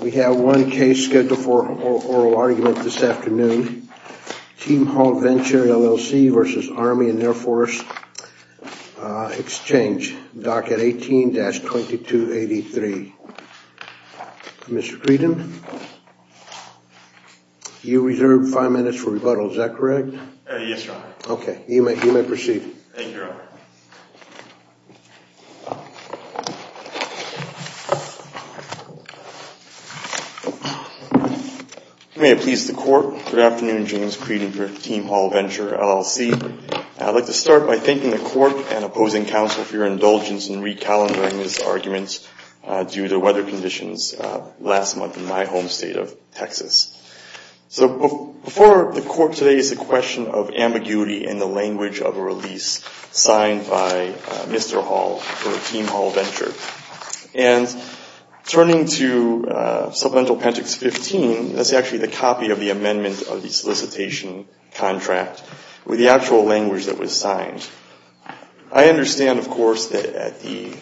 We have one case scheduled for oral argument this afternoon. Team Hall Venture, LLC v. Army and Air Force Exchange, docket 18-2283. Mr. Creedon, you're reserved five minutes for rebuttal. Is that correct? Yes, Your Honor. Okay, you may proceed. You may have pleased the Court. Good afternoon, James Creedon for Team Hall Venture, LLC. I'd like to start by thanking the Court and opposing counsel for your indulgence in recalibrating this argument due to weather conditions last month in my home state of Texas. So before the Court today is the question of ambiguity in the language of a release signed by Mr. Hall for Team Hall Venture. And turning to Supplemental Pentatex 15, that's actually the copy of the amendment of the solicitation contract with the actual language that was signed. I understand, of course, that at the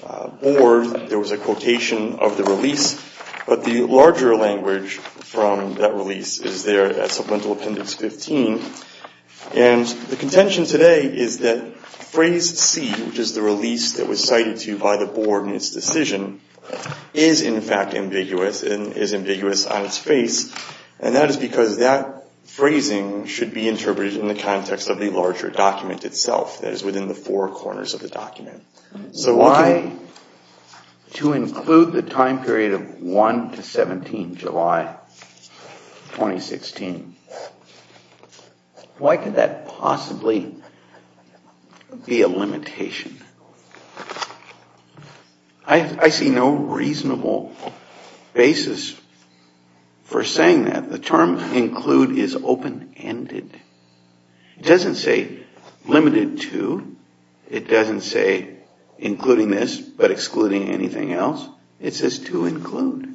Board there was a quotation of the release, but the larger language from that release is there at Supplemental Pentatex 15. And the contention today is that Phrase C, which is the release that was cited to you by the Board in its decision, is in fact ambiguous and is ambiguous on its face. And that is because that phrasing should be interpreted in the context of the larger document itself that is within the four corners of the document. So why, to include the time period of 1 to 17 July 2016, why could that possibly be a limitation? I see no reasonable basis for saying that. The term include is open-ended. It doesn't say limited to. It doesn't say including this but excluding anything else. It says to include.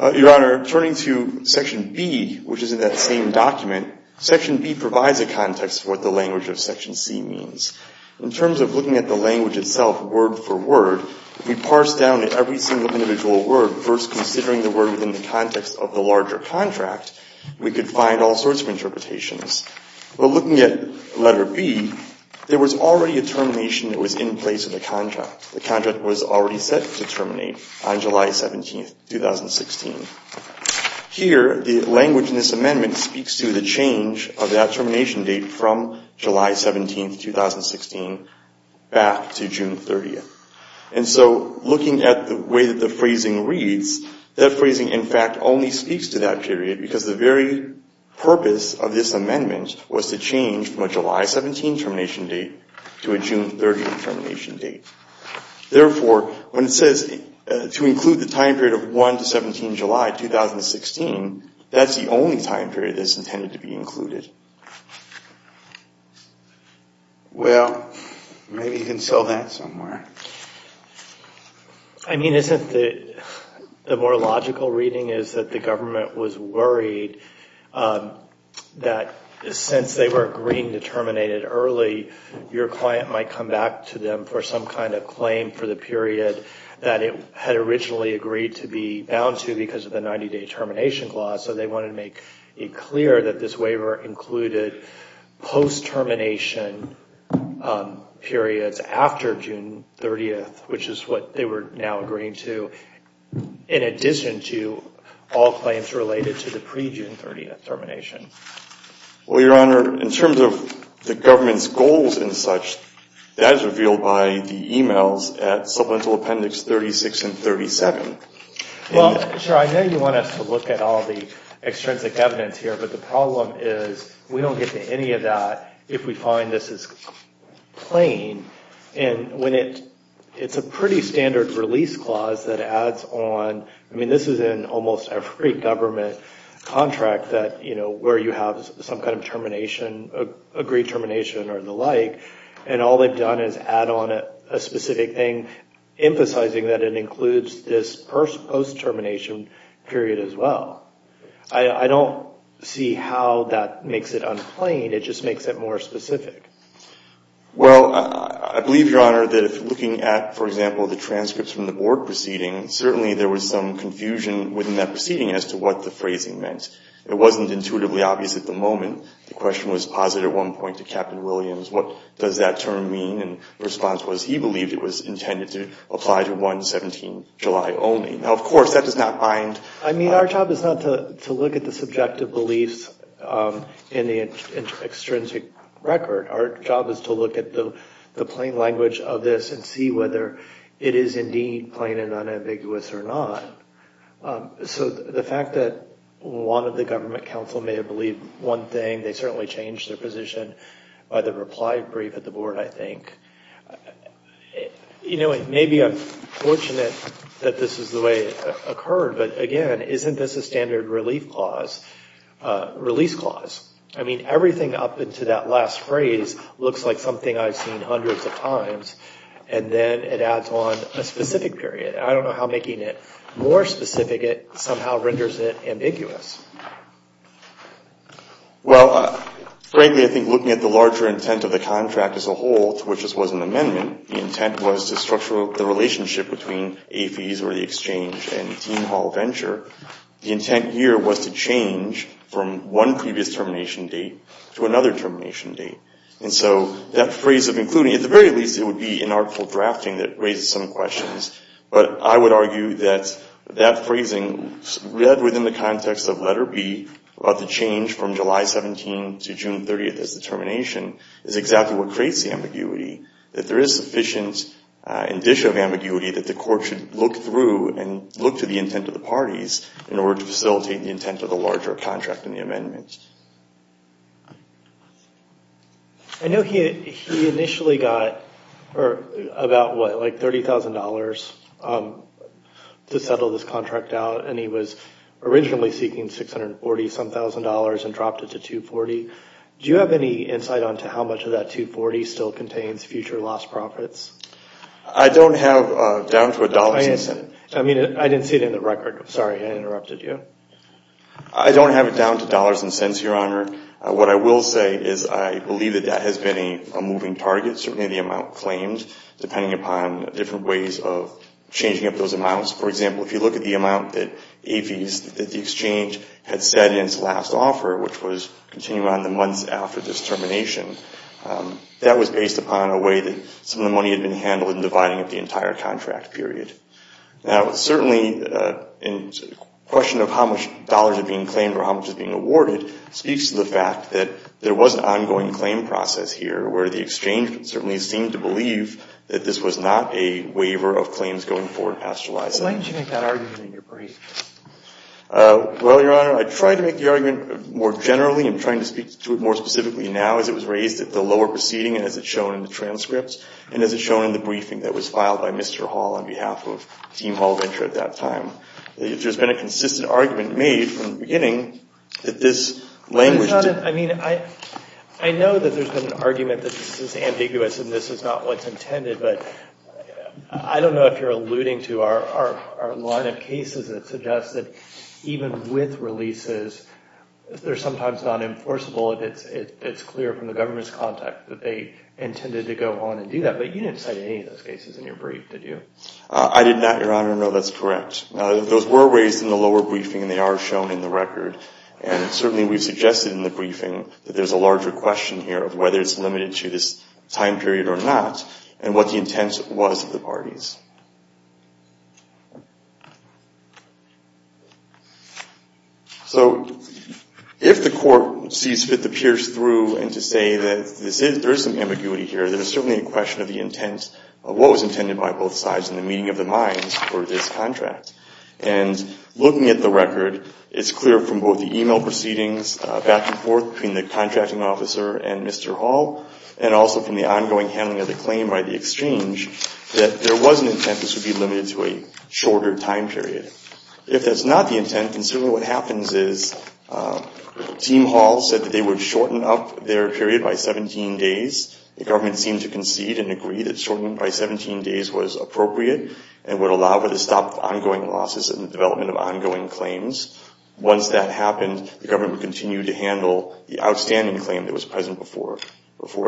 Your Honor, turning to Section B, which is in that same document, Section B provides a context for what the language of Section C means. In terms of looking at the language itself word for word, if we parse down every single individual word, first considering the word within the context of the larger contract, we could find all sorts of interpretations. But looking at Letter B, there was already a termination that was in place of the contract. The contract was already set to terminate on July 17, 2016. Here, the language in this amendment speaks to the change of that termination date from July 17, 2016 back to June 30. And so looking at the way that the phrasing reads, that phrasing in fact only speaks to that period because the very purpose of this amendment was to change from a July 17 termination date to a June 30 termination date. Therefore, when it says to include the time period of 1 to 17 July 2016, that's the only time period that's intended to be included. Well, maybe you can sell that somewhere. I mean, isn't the more logical reading is that the government was worried that since they were agreeing to terminate it early, your client might come back to them for some kind of claim for the period that it had originally agreed to be bound to because of the 90-day termination clause. So they wanted to make it clear that this waiver included post-termination periods after June 30. Which is what they were now agreeing to, in addition to all claims related to the pre-June 30 termination. Well, Your Honor, in terms of the government's goals and such, that is revealed by the emails at Supplemental Appendix 36 and 37. Well, I know you want us to look at all the extrinsic evidence here, but the problem is we don't get to any of that if we find this is plain. And it's a pretty standard release clause that adds on, I mean, this is in almost every government contract where you have some kind of termination, agreed termination or the like, and all they've done is add on a specific thing, emphasizing that it includes this post-termination period as well. I don't see how that makes it unplain, it just makes it more specific. Well, I believe, Your Honor, that if looking at, for example, the transcripts from the board proceeding, certainly there was some confusion within that proceeding as to what the phrasing meant. It wasn't intuitively obvious at the moment. The question was posited at one point to Captain Williams, what does that term mean? And the response was he believed it was intended to apply to 1-17-July only. Now, of course, that does not bind... I mean, our job is not to look at the subjective beliefs in the extrinsic record. Our job is to look at the plain language of this and see whether it is indeed plain and unambiguous or not. So the fact that one of the government counsel may have believed one thing, they certainly changed their position by the reply brief at the board, I think. You know, it may be unfortunate that this is the way it occurred, but again, isn't this a standard release clause? I mean, everything up into that last phrase looks like something I've seen hundreds of times, and then it adds on a specific period. I don't know how making it more specific somehow renders it ambiguous. Well, frankly, I think looking at the larger intent of the contract as a whole, to which this was an amendment, the intent was to structure the relationship between AFIES or the exchange and Dean Hall Venture. The intent here was to change from one previous termination date to another termination date. And so that phrase of including, at the very least it would be an artful drafting that raises some questions, but I would argue that that phrasing, read within the context of letter B, about the change from July 17th to June 30th as the termination, is exactly what creates the ambiguity. That there is sufficient indicia of ambiguity that the court should look through and look to the intent of the parties in order to facilitate the intent of the larger contract in the amendment. I know he initially got about, what, like $30,000 to settle this contract out. And he was originally seeking $640,000 and dropped it to $240,000. Do you have any insight on how much of that $240,000 still contains future lost profits? I don't have down to a dollars and cents. I don't have it down to dollars and cents, Your Honor. What I will say is I believe that that has been a moving target, certainly the amount claimed, depending upon different ways of changing up those amounts. For example, if you look at the amount that APHES, that the exchange had said in its last offer, which was continuing on the months after this termination, that was based upon a way that some of the money had been handled in dividing up the entire contract period. Now, certainly in question of how much dollars are being claimed or how much is being awarded speaks to the fact that there was an ongoing claim process here where the exchange certainly seemed to believe that this was not a waiver of claims going forward past July 7th. Why did you make that argument in your briefing? Well, Your Honor, I tried to make the argument more generally and trying to speak to it more specifically now as it was raised at the lower proceeding as it's shown in the transcripts and as it's shown in the briefing that was filed by Mr. Hall on behalf of Dean Hall Venture at that time. There's been a consistent argument made from the beginning that this language... I know that there's been an argument that this is ambiguous and this is not what's intended, but I don't know if you're alluding to our line of cases that suggest that even with releases, they're sometimes not enforceable if it's clear from the government's context that they intended to go on and do that. You didn't cite any of those cases in your brief, did you? I did not, Your Honor. No, that's correct. Those were raised in the lower briefing and they are shown in the record. And certainly we've suggested in the briefing that there's a larger question here of whether it's limited to this time period or not and what the intent was of the parties. So if the court sees fit to pierce through and to say that there is some ambiguity here, there's certainly a question of the intent of what was intended by both sides in the meeting of the minds for this contract. And looking at the record, it's clear from both the email proceedings back and forth between the contracting officer and Mr. Hall and also from the ongoing handling of the claim by the exchange that there was an intent this would be limited to a shorter time period. If that's not the intent, then certainly what happens is Team Hall said that they would shorten up their period by 17 days. The government seemed to concede and agree that shortening it by 17 days was appropriate and would allow for the stop of ongoing losses and the development of ongoing claims. Once that happened, the government would continue to handle the outstanding claim that was present before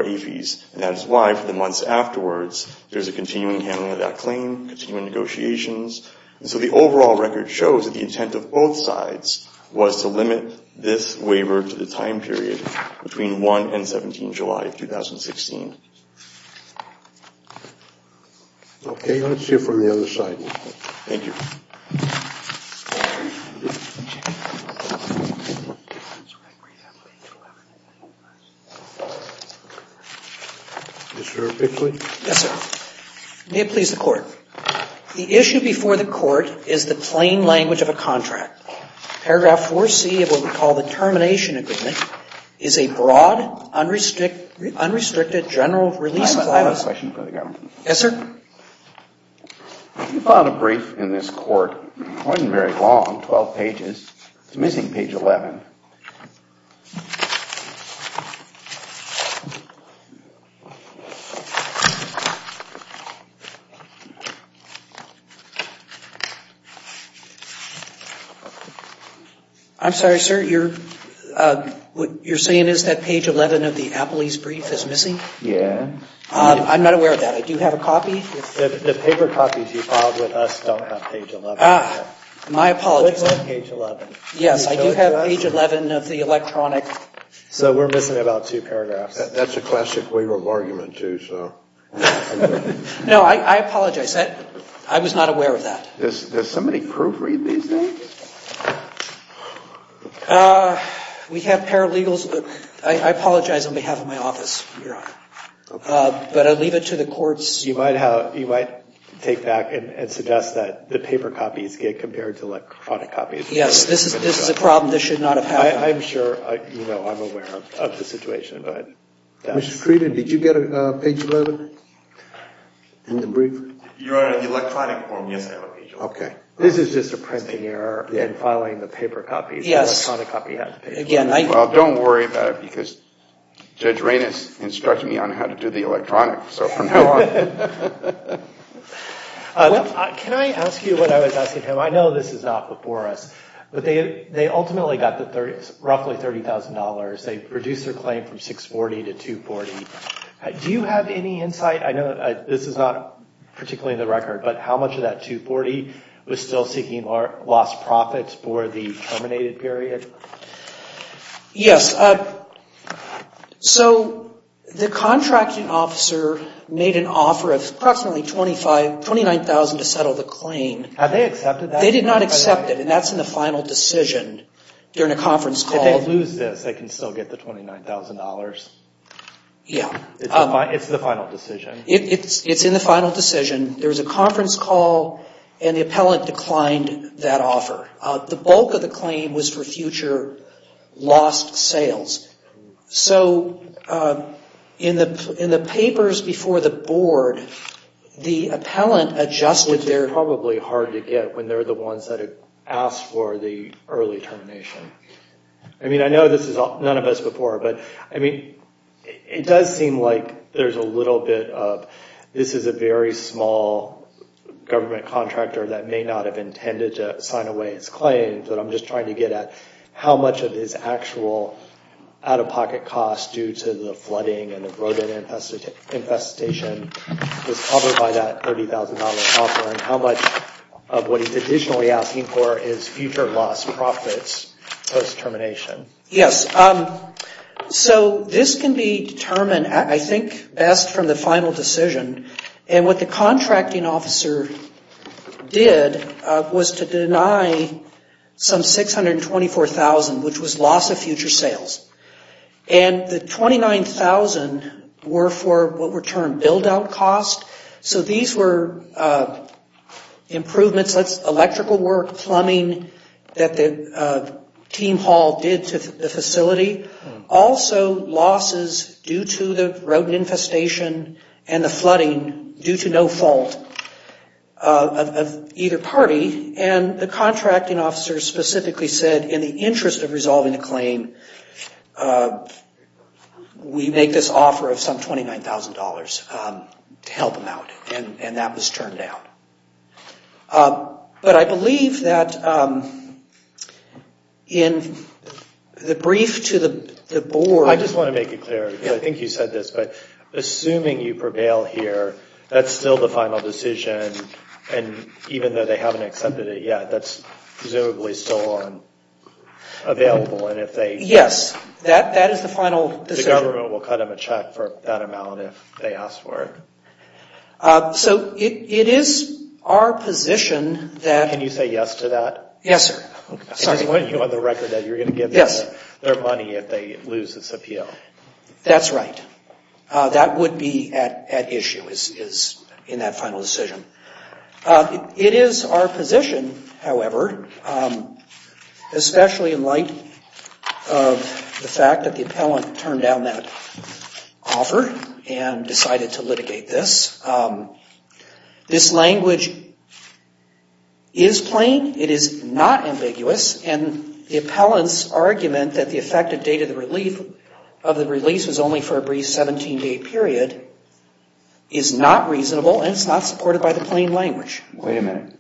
APHIS. And that is why for the months afterwards, there's a continuing handling of that claim, continuing negotiations. And so the overall record shows that the intent of both sides was to limit this waiver to the time period between 1 and 17 July of 2016. Okay, let's see it from the other side. Yes, sir. May it please the Court. The issue before the Court is the plain language of a contract. Paragraph 4C of what we call the termination agreement is a broad, unrestricted general release clause. I have another question for the government. Yes, sir. If you file a brief in this Court, it wasn't very long, 12 pages. It's missing page 11. I'm sorry, sir. What you're saying is that page 11 of the Appley's brief is missing? Yes. I'm not aware of that. I do have a copy. The paper copies you filed with us don't have page 11. My apologies. Yes, I do have page 11 of the electronic. So we're missing about two paragraphs. That's a classic waiver of argument, too. No, I apologize. I was not aware of that. Does somebody proofread these things? We have paralegals. I apologize on behalf of my office. But I leave it to the courts. You might take back and suggest that the paper copies get compared to electronic copies. Yes, this is a problem that should not have happened. I'm sure I'm aware of the situation. Did you get a page 11 in the brief? Your Honor, in the electronic form, yes, I have a page 11. This is just a printing error in filing the paper copies. Well, don't worry about it, because Judge Reynos instructed me on how to do the electronic. Can I ask you what I was asking him? I know this is not before us, but they ultimately got roughly $30,000. They reduced their claim from $640,000 to $240,000. Do you have any insight? I know this is not particularly in the record, but how much of that $240,000 was still seeking lost profits for the terminated period? Yes, so the contracting officer made an offer of approximately $29,000 to settle the claim. Had they accepted that? They did not accept it, and that's in the final decision during a conference call. If they lose this, they can still get the $29,000? Yeah. It's in the final decision. There was a conference call, and the appellant declined that offer. The bulk of the claim was for future lost sales. So in the papers before the Board, the appellant adjusted their... Which is probably hard to get when they're the ones that asked for the early termination. I mean, I know this is none of us before, but I mean, it does seem like there's a little bit of this is a very small government contractor that may not have intended to sign away his claim, but I'm just trying to get at how much of his actual out-of-pocket costs due to the flooding and the road infestation was covered by that $30,000 offer, and how much of what he's additionally asking for is future lost profits post-termination? Yes. So this can be determined, I think, best from the final decision. And what the contracting officer did was to deny some $624,000, which was loss of future sales. And the $29,000 were for what were termed build-out costs. So these were improvements, electrical work, plumbing, that the team hall did to the facility. Also losses due to the road infestation and the flooding due to no fault of either party, and the contracting officer specifically said, in the interest of resolving the claim, we make this offer of some $29,000 to help him out, and that was turned down. But I believe that in the brief to the board... I just want to make it clear, because I think you said this, but assuming you prevail here, that's still the final decision, and even though they haven't accepted it yet, that's presumably still available, and if they... Yes, that is the final decision. The government will cut him a check for that amount if they ask for it. So it is our position that... Yes, sir. I just want you on the record that you're going to give them their money if they lose this appeal. That's right. That would be at issue in that final decision. It is our position, however, especially in light of the fact that the appellant turned down that offer and decided to litigate this. This language is plain. It is not ambiguous, and the appellant's argument that the effective date of the release was only for a brief 17-day period is not reasonable, and it's not supported by the plain language. Wait a minute.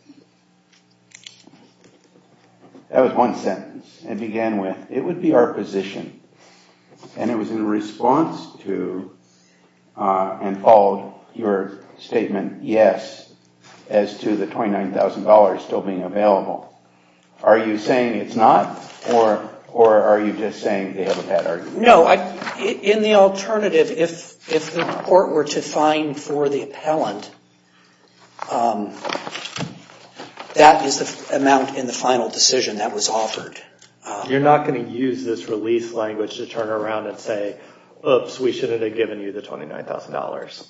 That was one sentence. It began with, it would be our position, and it was in response to, and followed your statement, yes, as to the $29,000 still being available. Are you saying it's not, or are you just saying they have a bad argument? No, in the alternative, if the court were to fine for the appellant, that is the amount in the final decision that was offered. You're not going to use this release language to turn around and say, oops, we shouldn't have given you the $29,000.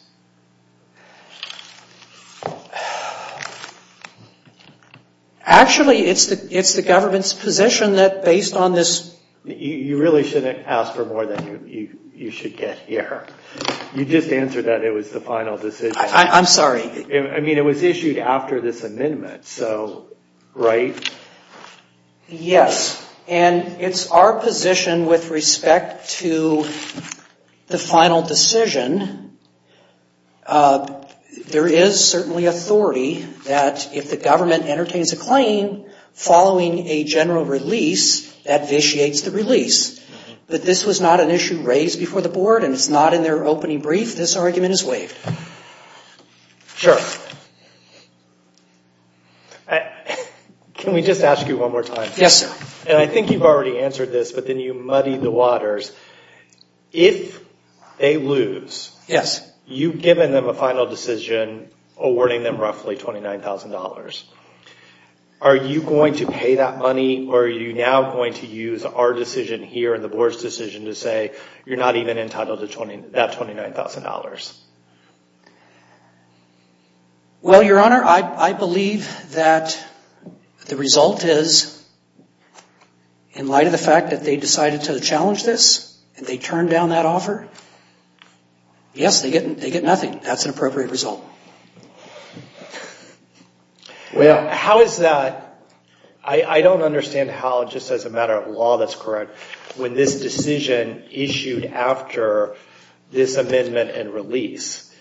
Actually, it's the government's position that based on this... You really shouldn't ask for more than you should get here. You just answered that it was the final decision. I'm sorry. I mean, it was issued after this amendment, so right? Yes, and it's our position with respect to the government. There is certainly authority that if the government entertains a claim following a general release, that vitiates the release. But this was not an issue raised before the board, and it's not in their opening brief. This argument is waived. Sure. Can we just ask you one more time? Yes, sir. And I think you've already answered this, but then you muddied the waters. If they lose, you've given them a final decision awarding them roughly $29,000. Are you going to pay that money, or are you now going to use our decision here and the board's decision to say you're not even entitled to that $29,000? Well, Your Honor, I believe that the result is in light of the fact that they decided to challenge this, and they turned down that offer. Yes, they get nothing. That's an appropriate result. Well, how is that? I don't understand how just as a matter of law that's correct. When this decision issued after this amendment and release,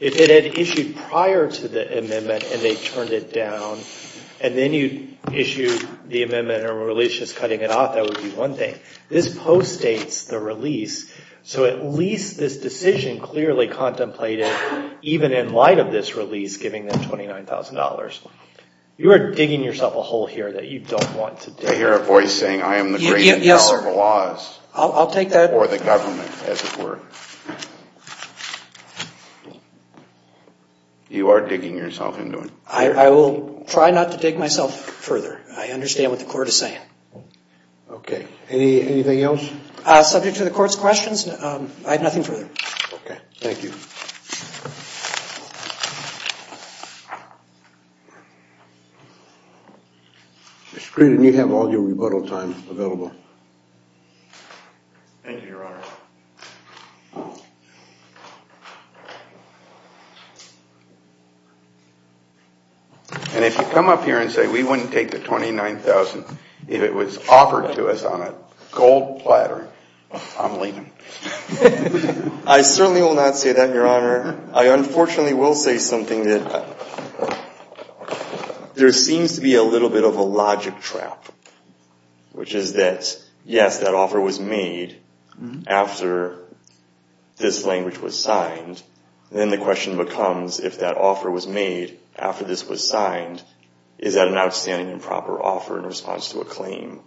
if it had issued prior to the amendment and they turned it down and then you issued the amendment and released just cutting it off, that would be one thing. This post-dates the release, so at least this decision clearly contemplated, even in light of this release, giving them $29,000. You are digging yourself a hole here that you don't want to dig. I hear a voice saying, I am the great and powerful laws. I'll take that. Or the government, as it were. You are digging yourself into it. I will try not to dig myself further. I understand what the court is saying. Anything else? Subject to the court's questions, I have nothing further. Mr. Creighton, you have all your rebuttal time available. Thank you, Your Honor. And if you come up here and say we wouldn't take the $29,000 if it was offered to us on a gold platter, I'm leaving. I certainly will not say that, Your Honor. I unfortunately will say something that there seems to be a little bit of a logic trap, which is that, yes, that offer was made after the amendment was issued, but after this language was signed, then the question becomes, if that offer was made after this was signed, is that an outstanding and proper offer in response to a claim?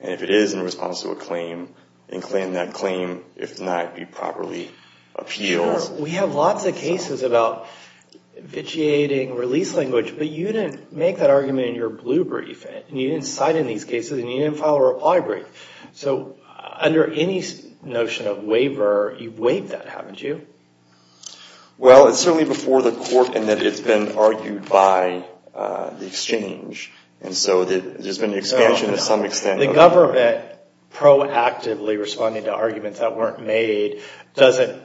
And if it is in response to a claim, then can that claim, if not, be properly appealed? Your Honor, we have lots of cases about vitiating release language, but you didn't make that argument in your blue brief, and you didn't cite in these cases, and you didn't file a reply brief. So under any notion of waiver, you've waived that, haven't you? Well, it's certainly before the court in that it's been argued by the exchange, and so there's been expansion to some extent. The government proactively responding to arguments that weren't made doesn't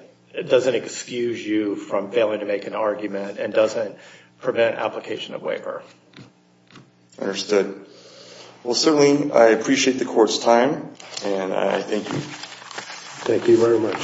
excuse you from failing to make an argument and doesn't prevent application of waiver. Understood. Well, certainly, I appreciate the Court's time, and I thank you. Thank you very much.